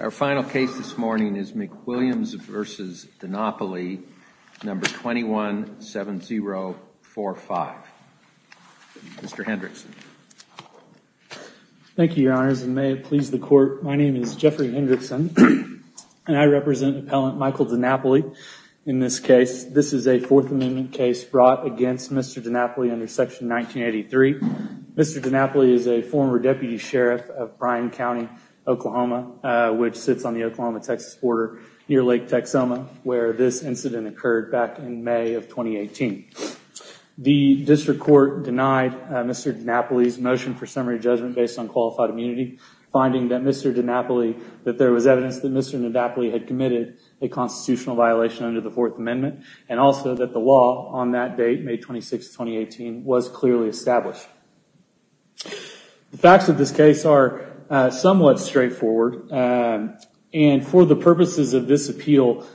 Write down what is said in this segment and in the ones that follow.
Our final case this morning is McWilliams v. Dinapoli, No. 217045. Mr. Hendrickson. Thank you, Your Honors, and may it please the Court, my name is Jeffrey Hendrickson and I represent Appellant Michael Dinapoli in this case. This is a Fourth Amendment case brought against Mr. Dinapoli under Section 1983. Mr. Dinapoli is a former deputy sheriff of Bryan County, Oklahoma, which sits on the Oklahoma-Texas border near Lake Texoma, where this incident occurred back in May of 2018. The District Court denied Mr. Dinapoli's motion for summary judgment based on qualified immunity, finding that Mr. Dinapoli, that there was evidence that Mr. Dinapoli had committed a constitutional violation under the Fourth Amendment, and that date, May 26, 2018, was clearly established. The facts of this case are somewhat straightforward, and for the purposes of this appeal,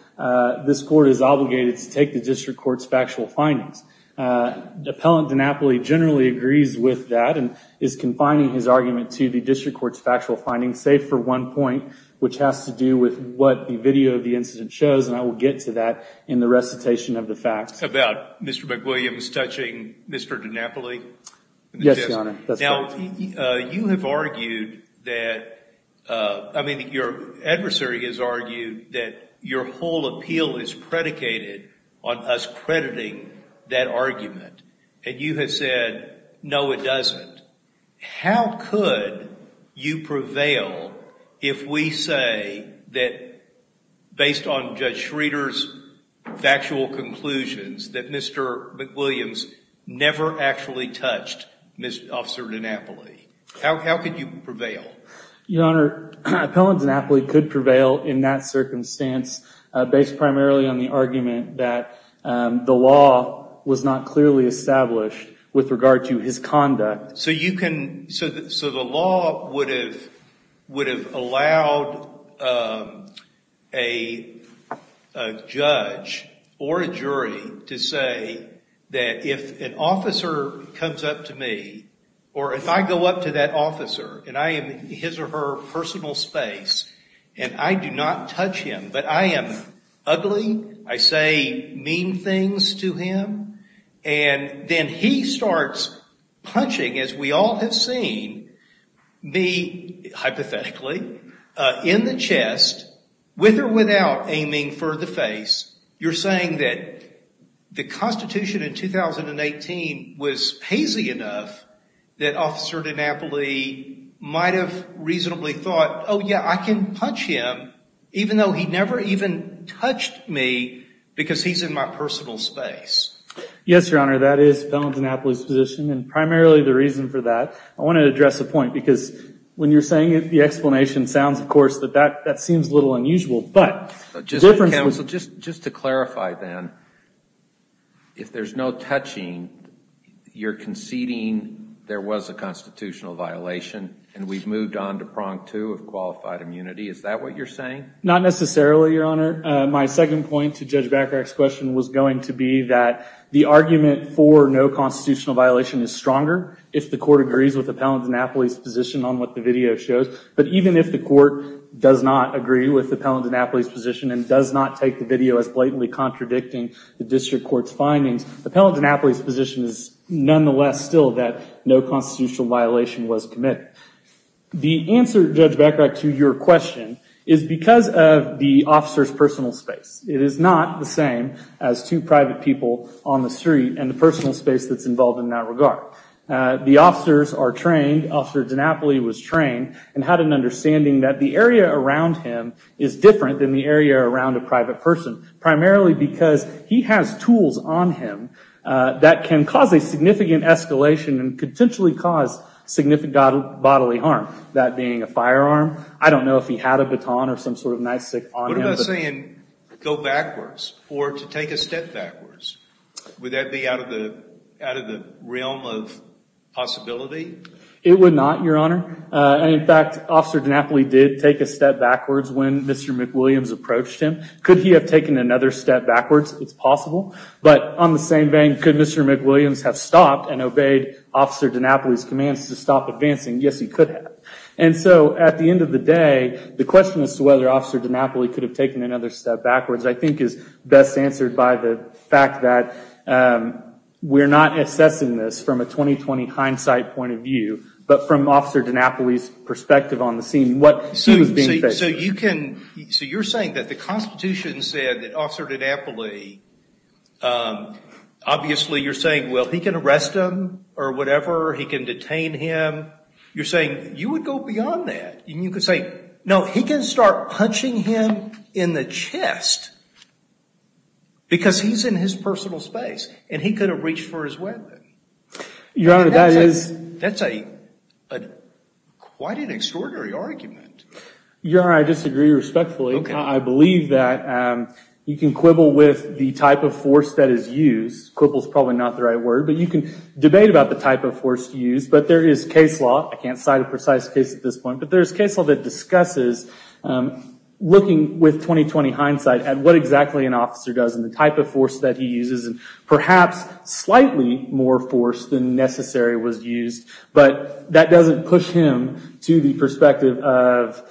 this Court is obligated to take the District Court's factual findings. Appellant Dinapoli generally agrees with that and is confining his argument to the District Court's factual findings, save for one point, which has to do with what the video of the incident shows, and I will get to that in the recitation of the facts. About Mr. McWilliams touching Mr. Dinapoli? Yes, Your Honor, that's correct. Now, you have argued that, I mean, your adversary has argued that your whole appeal is predicated on us crediting that argument, and you have said, no, it doesn't. How could you prevail if we say that, based on Judge Schroeder's factual conclusions, that Mr. McWilliams never actually touched Officer Dinapoli? How could you prevail? Your Honor, Appellant Dinapoli could prevail in that circumstance, based primarily on the argument that the law was not clearly established with regard to his conduct. So you can, so the law would have allowed a judge or a jury to say that if an officer comes up to me, or if I go up to that officer, and I am his or her personal space, and I do not touch him, but I am ugly, I say mean things to him, and then he starts punching, as we all have seen, me, hypothetically, in the chest, with or without aiming for the face. You're saying that the Constitution in 2018 was hazy enough that Officer Dinapoli might have reasonably thought, oh, yeah, I can punch him, even though he never even touched me, because he's in my personal space. Yes, Your Honor, that is Appellant Dinapoli's position, and primarily the reason for that. I want to address a point, because when you're saying it, the explanation sounds, of course, that that seems a little unusual, but the difference was Counsel, just to clarify then, if there's no touching, you're conceding there was a move on to prong two of qualified immunity. Is that what you're saying? Not necessarily, Your Honor. My second point to Judge Bacarach's question was going to be that the argument for no constitutional violation is stronger if the court agrees with Appellant Dinapoli's position on what the video shows, but even if the court does not agree with Appellant Dinapoli's position and does not take the video as blatantly contradicting the district court's findings, Appellant Dinapoli's nonetheless still that no constitutional violation was committed. The answer, Judge Bacarach, to your question is because of the officer's personal space. It is not the same as two private people on the street and the personal space that's involved in that regard. The officers are trained, Officer Dinapoli was trained, and had an understanding that the area around him is different than the area around a private person, primarily because he has tools on him that can cause a significant escalation and potentially cause significant bodily harm, that being a firearm. I don't know if he had a baton or some sort of nightstick on him. What about saying, go backwards, or to take a step backwards? Would that be out of the realm of possibility? It would not, Your Honor. In fact, Officer Dinapoli did take a step backwards when Mr. McWilliams approached him. Could he have taken another step backwards? It's possible, but on the same vein, could Mr. McWilliams have stopped and obeyed Officer Dinapoli's commands to stop advancing? Yes, he could have. At the end of the day, the question as to whether Officer Dinapoli could have taken another step backwards, I think, is best answered by the fact that we're not assessing this from a 20-20 hindsight point of view, but from Officer Dinapoli's perspective on the scene, what he was being faced with. So you're saying that the Constitution said that Officer Dinapoli, obviously, you're saying, well, he can arrest him or whatever, he can detain him. You're saying you would go beyond that, and you could say, no, he can start punching him in the chest because he's in his personal space, and he could have reached for his weapon. Your Honor, that is... That's quite an extraordinary argument. Your Honor, I disagree respectfully. I believe that you can quibble with the type of force that is used, quibble is probably not the right word, but you can debate about the type of force used, but there is case law, I can't cite a precise case at this point, but there's case law that discusses, looking with 20-20 hindsight at what exactly an officer does and the type of force that he uses, and perhaps slightly more force than necessary was used, but that doesn't push him to the perspective of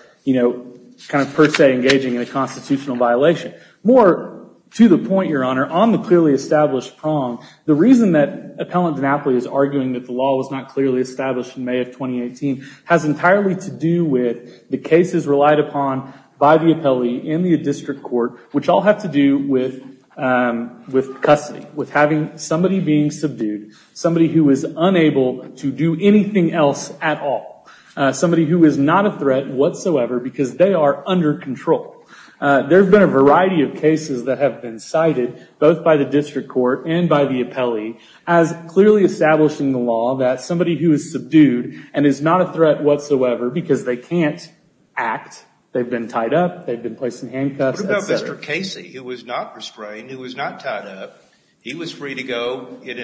per se engaging in a constitutional violation. More to the point, Your Honor, on the clearly established prong, the reason that Appellant Dinapoli is arguing that the law was not clearly established in May of 2018 has entirely to do with the cases relied upon by the appellee in the district court, which all have to do with custody, with having somebody being subdued, somebody who is unable to do anything else at all, somebody who is not a threat whatsoever because they are under control. There have been a variety of cases that have been cited, both by the district court and by the appellee, as clearly establishing the law that somebody who is subdued and is not a threat whatsoever because they can't act, they've been tied up, they've been placed in handcuffs, et cetera. What about Mr. Casey, who was not restrained, who was not tied up, he was free to go in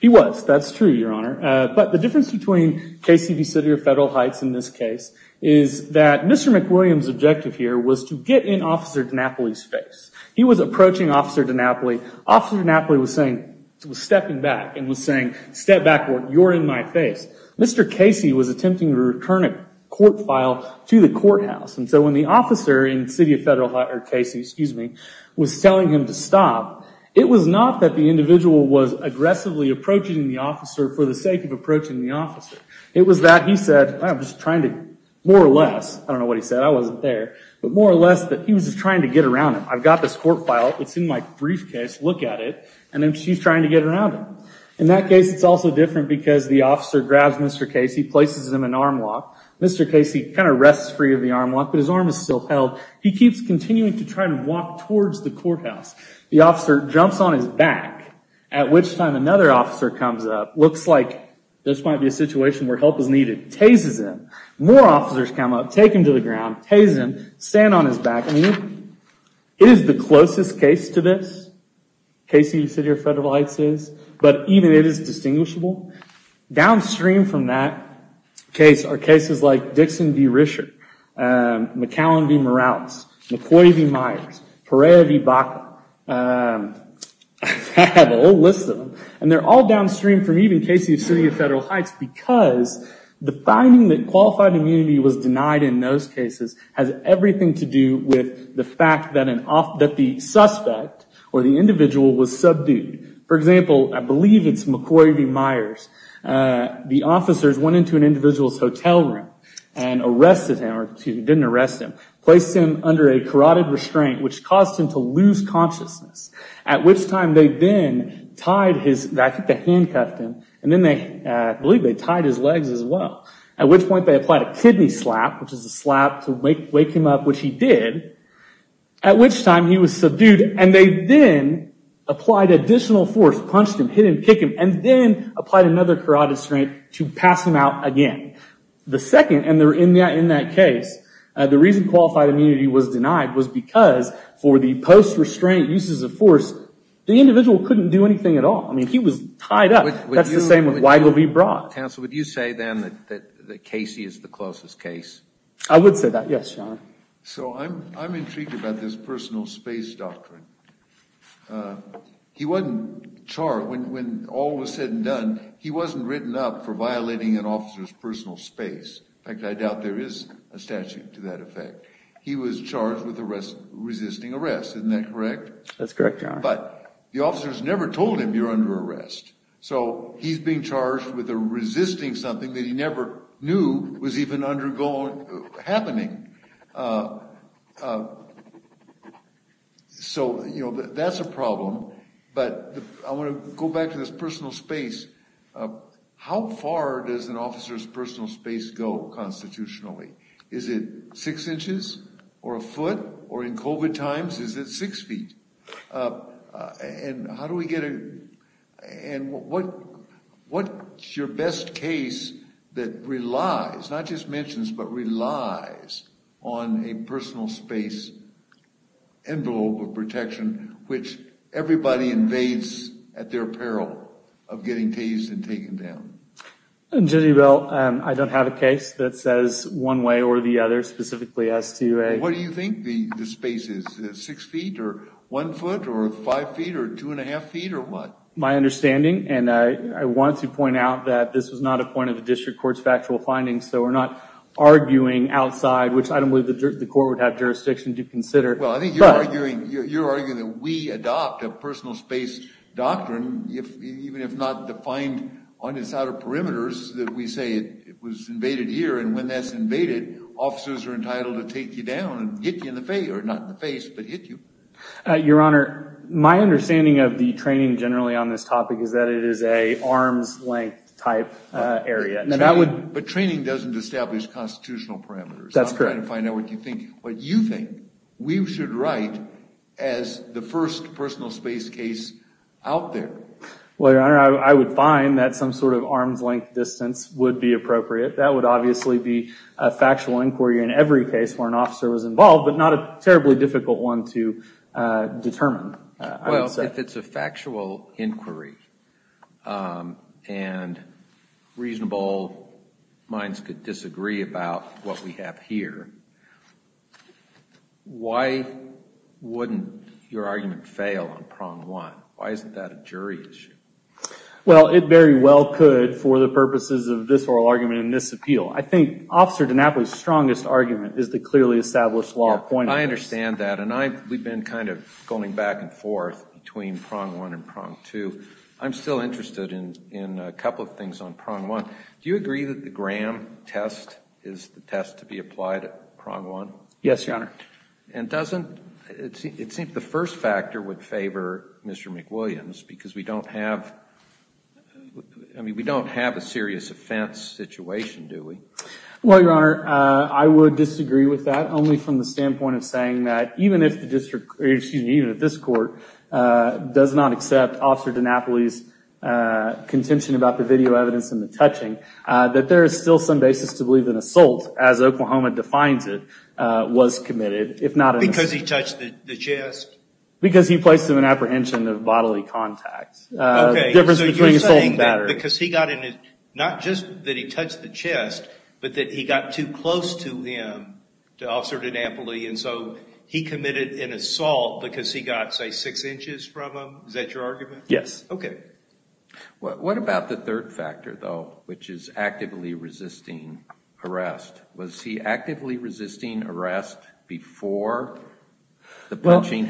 He was, that's true, Your Honor, but the difference between Casey v. City of Federal Heights in this case is that Mr. McWilliams' objective here was to get in Officer Dinapoli's face. He was approaching Officer Dinapoli, Officer Dinapoli was stepping back and was saying, step back, you're in my face. Mr. Casey was attempting to return a court file to the courthouse, and so when the officer in City of Federal Heights, or Casey, excuse me, was telling him to stop, it was not that the individual was aggressively approaching the officer for the sake of approaching the officer. It was that he said, I'm just trying to, more or less, I don't know what he said, I wasn't there, but more or less that he was just trying to get around him. I've got this court file, it's in my briefcase, look at it, and then she's trying to get around him. In that case, it's also different because the officer grabs Mr. Casey, places him in arm lock, Mr. Casey kind of rests free of the arm lock, but his arm is still held. He keeps continuing to try to walk towards the courthouse. The officer jumps on his back, at which time another officer comes up, looks like this might be a situation where help is needed, tazes him. More officers come up, take him to the ground, taze him, stand on his back, I mean, it is the closest case to this, Casey, City of Federal Heights is, but even it is distinguishable. Downstream from that case are cases like Dixon v. Risher, McAllen v. Morales, McCoy v. Myers, Perea v. Baca. I have a whole list of them, and they're all downstream from even Casey of City of Federal Heights because the finding that qualified immunity was denied in those cases has everything to do with the fact that the suspect or the individual was subdued. For example, I believe it's McCoy v. Myers. The officers went into an individual's hotel room and arrested him, or didn't arrest him, placed him under a carotid restraint, which caused him to lose consciousness, at which time they then tied his... I think they handcuffed him, and then I believe they tied his legs as well, at which point they applied a kidney slap, which is a slap to wake him up, which he did, at which time he was subdued, and they then applied additional force, punched him, hit him, kick him, and then applied another carotid restraint to pass him out again. The second, and they're in that case, the reason qualified immunity was denied was because for the post-restraint uses of force, the individual couldn't do anything at all. He was tied up. That's the same with Weigel v. Brock. Counsel, would you say then that Casey is the closest case? I would say that, yes, Your Honor. I'm intrigued about this personal space doctrine. He wasn't charred when all was said and done. He wasn't written up for violating an officer's personal space. In fact, I doubt there is a statute to that effect. He was charged with resisting arrest. Isn't that correct? That's correct, Your Honor. But the officers never told him you're under arrest, so he's being charged with resisting something that he never knew was even happening. So, you know, that's a problem, but I want to go back to this personal space. How far does an officer's personal space go constitutionally? Is it six inches or a foot, or in COVID times, is it six feet? And how do we get a, and what's your best case that relies, not just mentions, but relies on a personal space envelope of protection, which everybody invades at their peril of getting tased and taken down? Judge Ebel, I don't have a case that says one way or the other, specifically as to a What do you think the space is, six feet or one foot or five feet or two and a half feet or what? My understanding, and I want to point out that this is not a point of the district court's factual findings, so we're not arguing outside, which I don't believe the court would have jurisdiction to consider. Well, I think you're arguing that we adopt a personal space doctrine, even if not defined on its outer perimeters, that we say it was invaded here, and when that's invaded, officers are entitled to take you down and hit you in the face, or not in the face, but hit you. Your Honor, my understanding of the training generally on this topic is that it is an arms-length type area. But training doesn't establish constitutional parameters. That's correct. I'm trying to find out what you think. What you think we should write as the first personal space case out there. Well, Your Honor, I would find that some sort of arms-length distance would be appropriate. That would obviously be a factual inquiry in every case where an officer was involved, but not a terribly difficult one to determine, I would say. Well, if it's a factual inquiry, and reasonable minds could disagree about what we have here, why wouldn't your argument fail on prong one? Why isn't that a jury issue? Well, it very well could for the purposes of this oral argument and this appeal. I think Officer DiNapoli's strongest argument is the clearly established law of pointings. I understand that. And we've been kind of going back and forth between prong one and prong two. I'm still interested in a couple of things on prong one. Do you agree that the Graham test is the test to be applied at prong one? Yes, Your Honor. And it seems the first factor would favor Mr. McWilliams, because we don't have a serious offense situation, do we? Well, Your Honor, I would disagree with that, only from the standpoint of saying that even if the district, excuse me, even if this court does not accept Officer DiNapoli's contention about the video evidence and the touching, that there is still some basis to believe an assault, as Oklahoma defines it, was committed, if not an assault. Because he touched the chest? Because he placed him in apprehension of bodily contact. Okay. The difference between assault and battery. Because he got in, not just that he touched the chest, but that he got too close to him, to Officer DiNapoli, and so he committed an assault because he got, say, six inches from him? Is that your argument? Yes. Okay. What about the third factor, though, which is actively resisting arrest? Was he actively resisting arrest before the punching?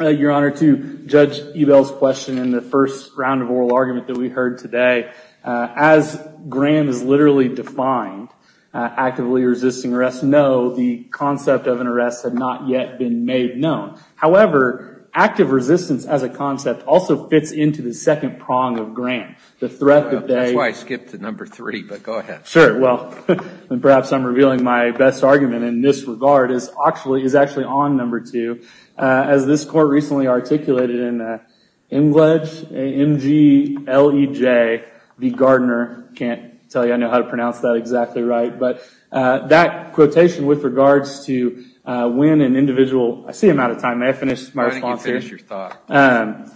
Your Honor, to judge Ebell's question in the first round of oral argument that we heard today, as Graham has literally defined, actively resisting arrest, no, the concept of an arrest had not yet been made known. However, active resistance as a concept also fits into the second prong of Graham. The threat that they... That's why I skipped to number three, but go ahead. Sure. Well, perhaps I'm revealing my best argument in this regard, is actually on number two. As this Court recently articulated in Englej, M-G-L-E-J, v. Gardner, can't tell you I know how to pronounce that exactly right, but that quotation with regards to when an individual, I see I'm out of time. May I finish my response here? I think you've finished your thought.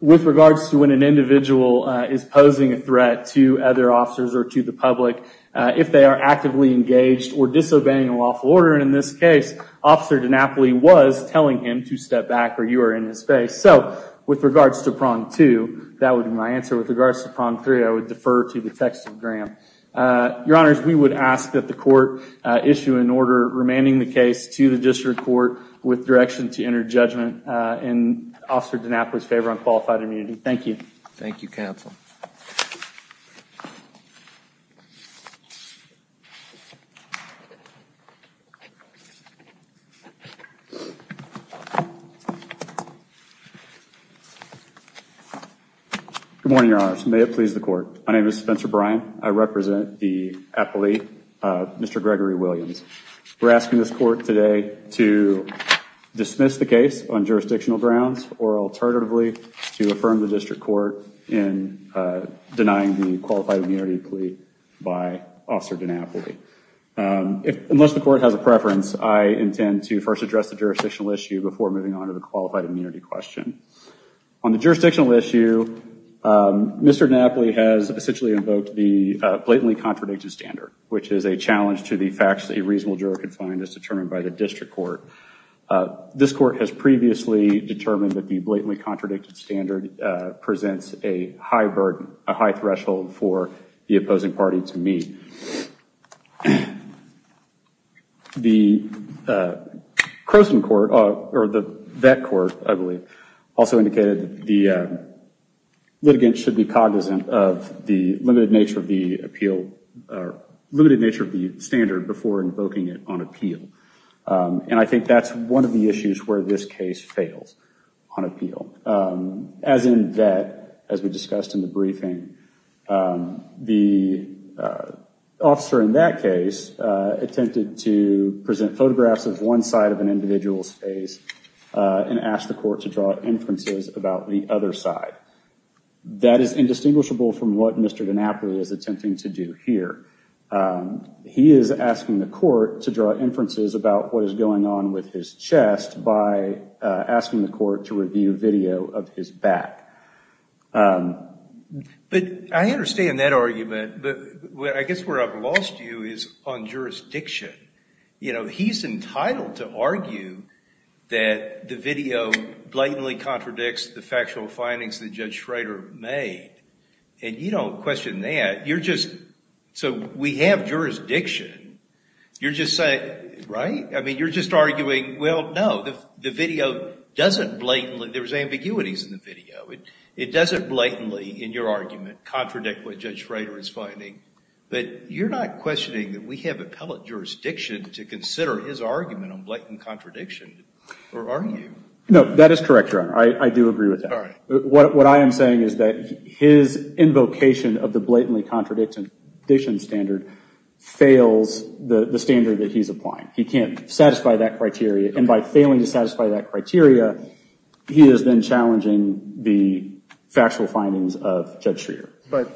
With regards to when an individual is posing a threat to other officers or to the public, if they are actively engaged or disobeying a lawful order, and in this case, Officer DiNapoli was telling him to step back or you are in his face. So, with regards to prong two, that would be my answer. With regards to prong three, I would defer to the text of Graham. Your Honors, we would ask that the Court issue an order remanding the case to the District Court with direction to enter judgment in Officer DiNapoli's favor on qualified immunity. Thank you. Thank you, Counsel. Good morning, Your Honors, and may it please the Court, my name is Spencer Bryan, I represent the athlete, Mr. Gregory Williams. We're asking this Court today to dismiss the case on jurisdictional grounds or, alternatively, to affirm the District Court in denying the qualified immunity plea by Officer DiNapoli. Unless the Court has a preference, I intend to first address the jurisdictional issue before moving on to the qualified immunity question. On the jurisdictional issue, Mr. DiNapoli has essentially invoked the blatantly contradicted standard, which is a challenge to the facts that a reasonable juror could find as determined by the District Court. This Court has previously determined that the blatantly contradicted standard presents a high burden, a high threshold for the opposing party to meet. The Croson Court, or the Vet Court, I believe, also indicated that the litigant should be limited nature of the standard before invoking it on appeal. And I think that's one of the issues where this case fails on appeal. As in Vet, as we discussed in the briefing, the officer in that case attempted to present photographs of one side of an individual's face and ask the Court to draw inferences about the other side. That is indistinguishable from what Mr. DiNapoli is attempting to do here. He is asking the Court to draw inferences about what is going on with his chest by asking the Court to review video of his back. But I understand that argument, but I guess where I've lost you is on jurisdiction. You know, he's entitled to argue that the video blatantly contradicts the factual findings that Judge Schrader made, and you don't question that. So we have jurisdiction. You're just saying, right? I mean, you're just arguing, well, no, the video doesn't blatantly, there's ambiguities in the video, it doesn't blatantly, in your argument, contradict what Judge Schrader is finding. But you're not questioning that we have appellate jurisdiction to consider his argument on blatant contradiction, or are you? No, that is correct, Your Honor. I do agree with that. What I am saying is that his invocation of the blatantly contradiction standard fails the standard that he's applying. He can't satisfy that criteria, and by failing to satisfy that criteria, he is then challenging the factual findings of Judge Schrader. But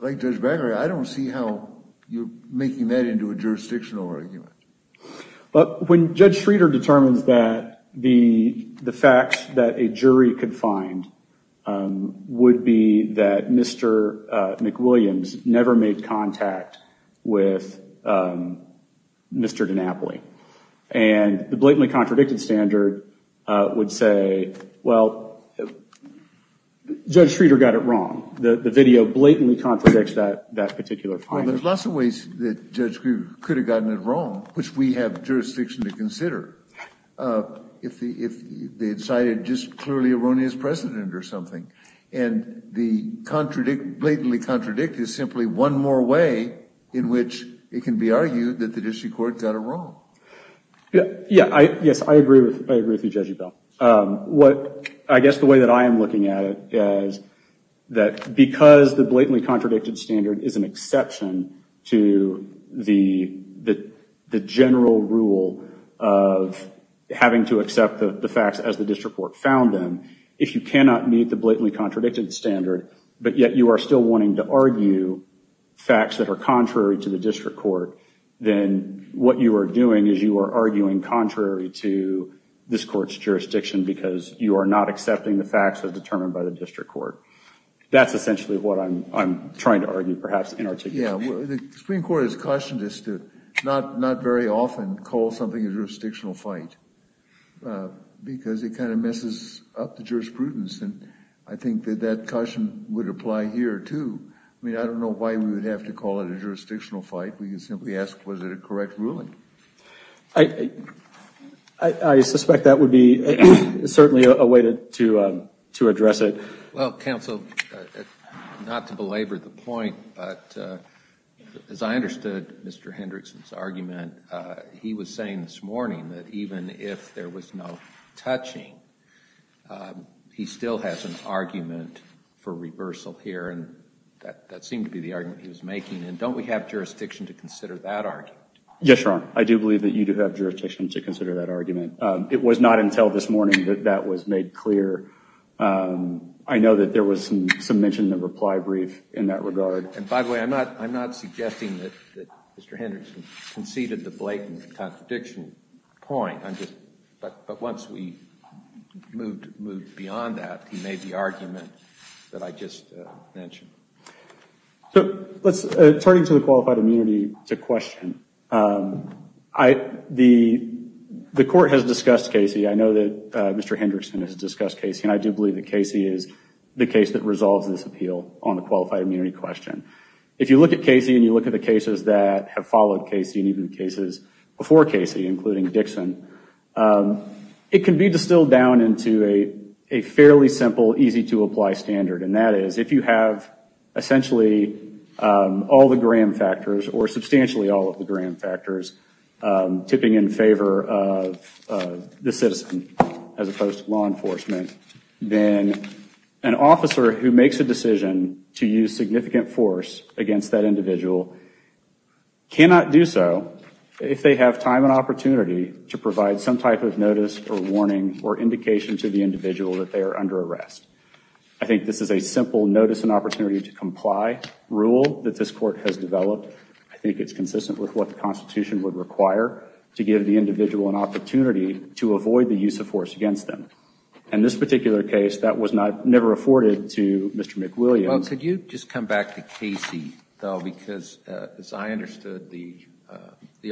like Judge Gregory, I don't see how you're making that into a jurisdictional argument. But when Judge Schrader determines that the facts that a jury could find would be that Mr. McWilliams never made contact with Mr. DiNapoli, and the blatantly contradicted standard would say, well, Judge Schrader got it wrong. The video blatantly contradicts that particular finding. There's lots of ways that Judge Gregory could have gotten it wrong, which we have jurisdiction to consider, if they decided just clearly erroneous precedent or something. And the blatantly contradict is simply one more way in which it can be argued that the district court got it wrong. Yes, I agree with you, Judge Ebel. I guess the way that I am looking at it is that because the blatantly contradicted standard is an exception to the general rule of having to accept the facts as the district court found them, if you cannot meet the blatantly contradicted standard, but yet you are still wanting to argue facts that are contrary to the district court, then what you are doing is you are arguing contrary to this court's jurisdiction because you are not accepting the facts as determined by the district court. That's essentially what I'm trying to argue, perhaps, in our take. Yeah, the Supreme Court has cautioned us to not very often call something a jurisdictional fight because it kind of messes up the jurisprudence. And I think that that caution would apply here, too. I mean, I don't know why we would have to call it a jurisdictional fight. We could simply ask, was it a correct ruling? I suspect that would be certainly a way to address it. Well, counsel, not to belabor the point, but as I understood Mr. Hendrickson's argument, he was saying this morning that even if there was no touching, he still has an argument for reversal here, and that seemed to be the argument he was making. And don't we have jurisdiction to consider that argument? Yes, Your Honor. I do believe that you do have jurisdiction to consider that argument. It was not until this morning that that was made clear. I know that there was some mention in the reply brief in that regard. And by the way, I'm not suggesting that Mr. Hendrickson conceded the blatant contradiction point. I'm just... But once we moved beyond that, he made the argument that I just mentioned. So, turning to the qualified immunity question, the court has discussed Casey. I know that Mr. Hendrickson has discussed Casey, and I do believe that Casey is the case that resolves this appeal on the qualified immunity question. If you look at Casey and you look at the cases that have followed Casey, and even the cases before Casey, including Dixon, it can be distilled down into a fairly simple, easy-to-apply standard. And that is, if you have essentially all the Graham factors, or substantially all of the Graham factors tipping in favor of the citizen, as opposed to law enforcement, then an officer who makes a decision to use significant force against that individual cannot do so if they have time and opportunity to provide some type of notice, or warning, or indication to the individual that they are under arrest. I think this is a simple notice and opportunity to comply rule that this court has developed. I think it's consistent with what the Constitution would require to give the individual an opportunity to avoid the use of force against them. And this particular case, that was never afforded to Mr. McWilliams. Well, could you just come back to Casey, though, because as I understood the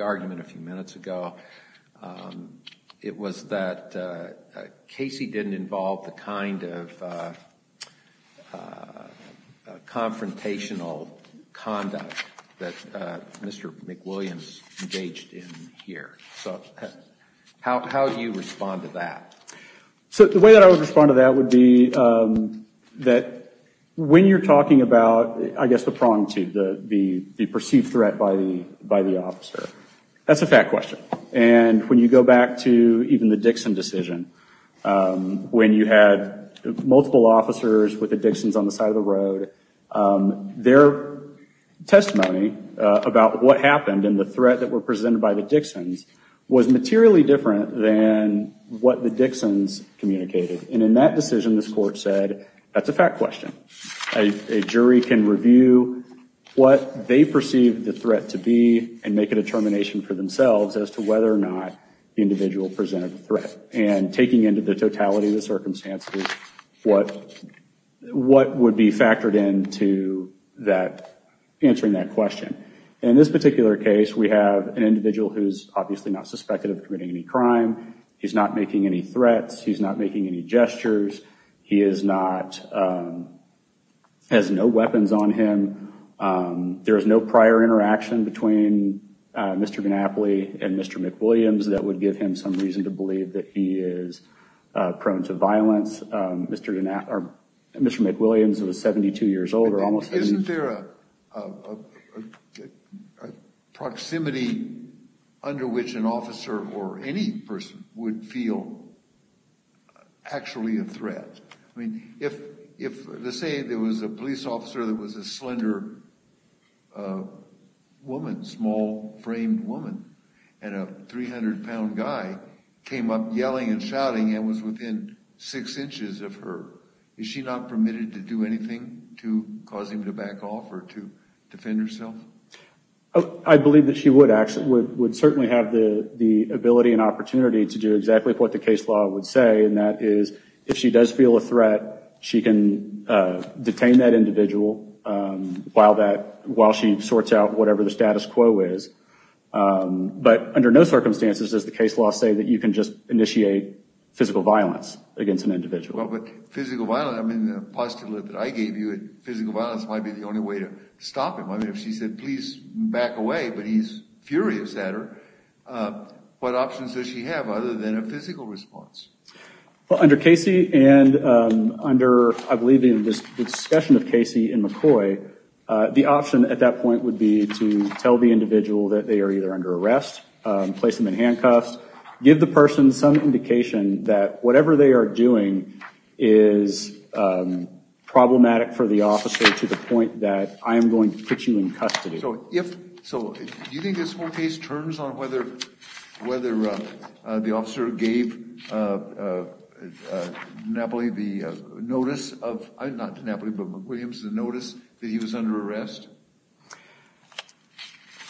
argument a few minutes ago, there was a lot of confrontational conduct that Mr. McWilliams engaged in here. So, how do you respond to that? So the way that I would respond to that would be that when you're talking about, I guess, the prong to the perceived threat by the officer, that's a fact question. And when you go back to even the Dixon decision, when you had multiple officers with the Dixons on the side of the road, their testimony about what happened and the threat that were presented by the Dixons was materially different than what the Dixons communicated. And in that decision, this court said, that's a fact question. A jury can review what they perceive the threat to be and make a determination for themselves as to whether or not the individual presented a threat. And taking into the totality of the circumstances, what would be factored into answering that question. In this particular case, we have an individual who's obviously not suspected of committing any crime. He's not making any threats. He's not making any gestures. He has no weapons on him. There is no prior interaction between Mr. DiNapoli and Mr. McWilliams that would give him some reason to believe that he is prone to violence. Mr. McWilliams was 72 years old, or almost 70. Isn't there a proximity under which an officer, or any person, would feel actually a threat? I mean, if, let's say, there was a police officer that was a slender woman, a small framed woman, and a 300 pound guy came up yelling and shouting and was within six inches of her. Is she not permitted to do anything to cause him to back off or to defend herself? I believe that she would certainly have the ability and opportunity to do exactly what the case law would say, and that is, if she does feel a threat, she can detain that individual while she sorts out whatever the status quo is. But under no circumstances does the case law say that you can just initiate physical violence against an individual. Well, but physical violence, I mean, the postulate that I gave you that physical violence might be the only way to stop him. I mean, if she said, please back away, but he's furious at her, what options does she have other than a physical response? Under Casey and under, I believe, the discussion of Casey and McCoy, the option at that point would be to tell the individual that they are either under arrest, place them in handcuffs, give the person some indication that whatever they are doing is problematic for the officer to the point that I am going to put you in custody. So if, so do you think this whole case turns on whether the officer gave McNapoli the notice of, not McNapoli, but McWilliams, the notice that he was under arrest?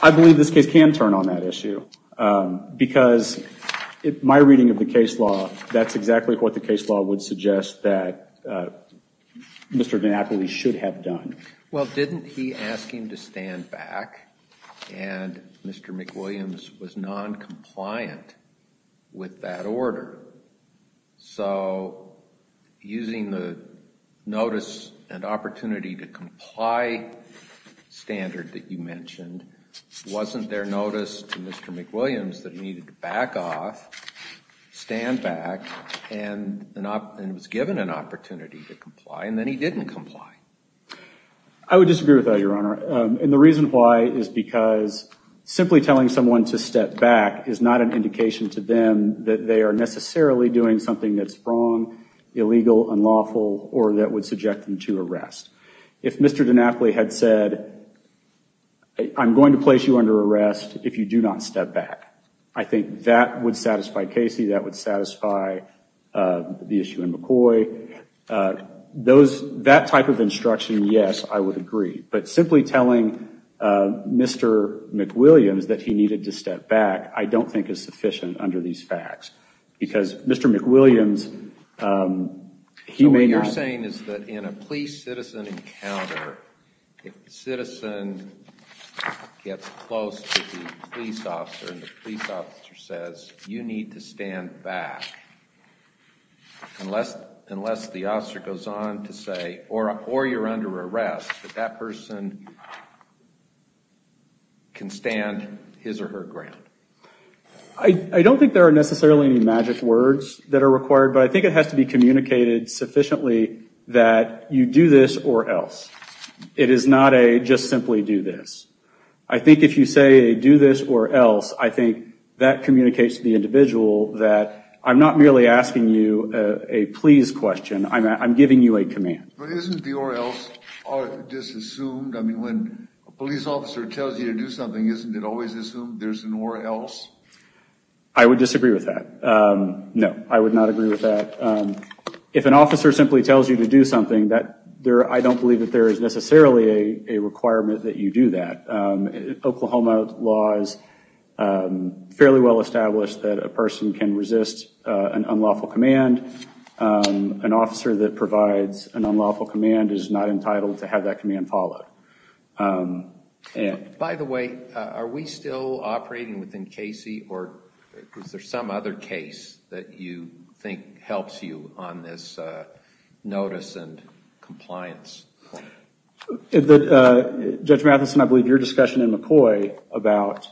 I believe this case can turn on that issue, because my reading of the case law, that's exactly what the case law would suggest that Mr. McNapoli should have done. Well, didn't he ask him to stand back, and Mr. McWilliams was non-compliant with that order? So using the notice and opportunity to comply standard that you mentioned, wasn't there notice to Mr. McWilliams that he needed to back off, stand back, and was given an opportunity to comply, and then he didn't comply? I would disagree with that, Your Honor, and the reason why is because simply telling someone to step back is not an indication to them that they are necessarily doing something that's wrong, illegal, unlawful, or that would subject them to arrest. If Mr. McNapoli had said, I'm going to place you under arrest if you do not step back, I think that would satisfy Casey, that would satisfy the issue in McCoy. That type of instruction, yes, I would agree, but simply telling Mr. McWilliams that he needed to step back, I don't think is sufficient under these facts, because Mr. McWilliams, he may not. What I'm saying is that in a police-citizen encounter, if the citizen gets close to the police officer and the police officer says, you need to stand back, unless the officer goes on to say, or you're under arrest, that that person can stand his or her ground. I don't think there are necessarily any magic words that are required, but I think it has to be communicated sufficiently that you do this or else. It is not a just simply do this. I think if you say, do this or else, I think that communicates to the individual that I'm not merely asking you a please question, I'm giving you a command. But isn't the or else disassumed? I mean, when a police officer tells you to do something, isn't it always assumed there's an or else? I would disagree with that, no. I would not agree with that. If an officer simply tells you to do something, I don't believe that there is necessarily a requirement that you do that. Oklahoma law is fairly well established that a person can resist an unlawful command. An officer that provides an unlawful command is not entitled to have that command followed. By the way, are we still operating within Casey or is there some other case that you think helps you on this notice and compliance? Judge Matheson, I believe your discussion in McCoy about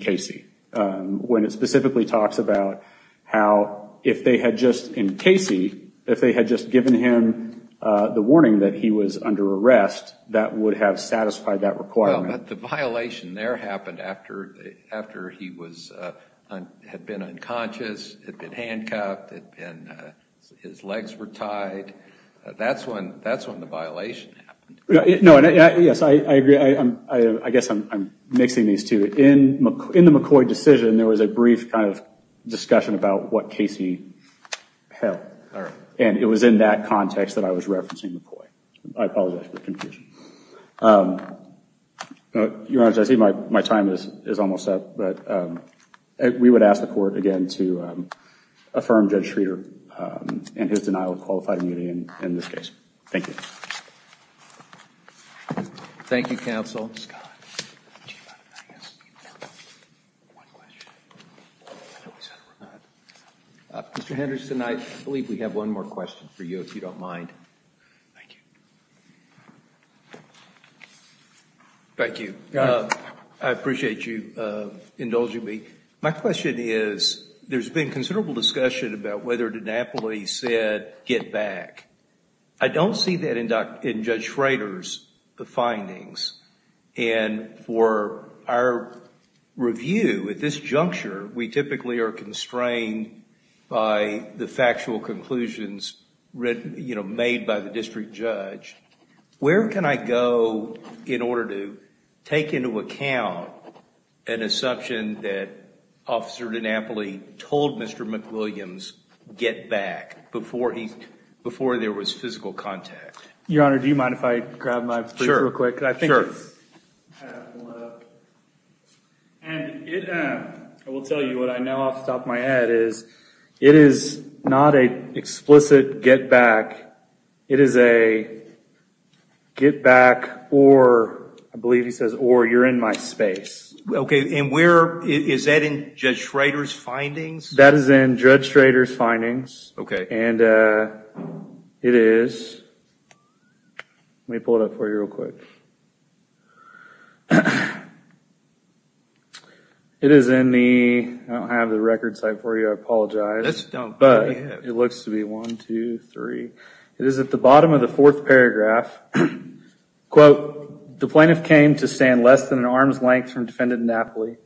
Casey, when it specifically talks about how if they had just, in Casey, if they had just given him the warning that he was under arrest, that would have satisfied that requirement. The violation there happened after he had been unconscious, had been handcuffed, his legs were tied. That's when the violation happened. Yes, I agree. I guess I'm mixing these two. In the McCoy decision, there was a brief kind of discussion about what Casey held and it was in that context that I was referencing McCoy. I apologize for confusion. Your Honor, I see my time is almost up. We would ask the Court again to affirm Judge Schroeder and his denial of qualified immunity in this case. Thank you. Thank you, counsel. Mr. Henderson, I believe we have one more question. Thank you. I appreciate you indulging me. My question is, there's been considerable discussion about whether DiNapoli said get back. I don't see that in Judge Schroeder's findings and for our review at this juncture, we typically are constrained by the factual conclusions made by the district judge. Where can I go in order to take into account an assumption that Officer DiNapoli told Mr. McWilliams, get back, before there was physical contact? Your Honor, do you mind if I grab my brief real quick? Sure. I will tell you, what I know off the top of my head is, it is not an explicit get back. It is a get back or, I believe he says, or you're in my space. Okay, and where, is that in Judge Schroeder's findings? That is in Judge Schroeder's findings, and it is, let me pull it up for you real quick. It is in the, I don't have the record site for you, I apologize, but it looks to be 1, 2, 3. It is at the bottom of the fourth paragraph, quote, the plaintiff came to stand less than an arm's length from Defendant DiNapoli,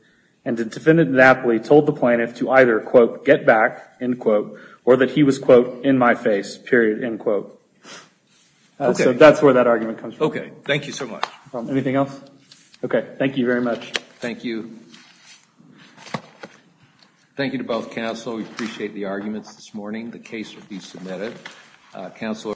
and the Defendant DiNapoli told the plaintiff to either, quote, get back, end quote, or that he was, quote, in my face, period, end quote. Okay. So that's where that argument comes from. Okay. Thank you so much. Anything else? Okay. Thank you very much. Thank you. Thank you to both counsel, we appreciate the arguments this morning. The case will be submitted.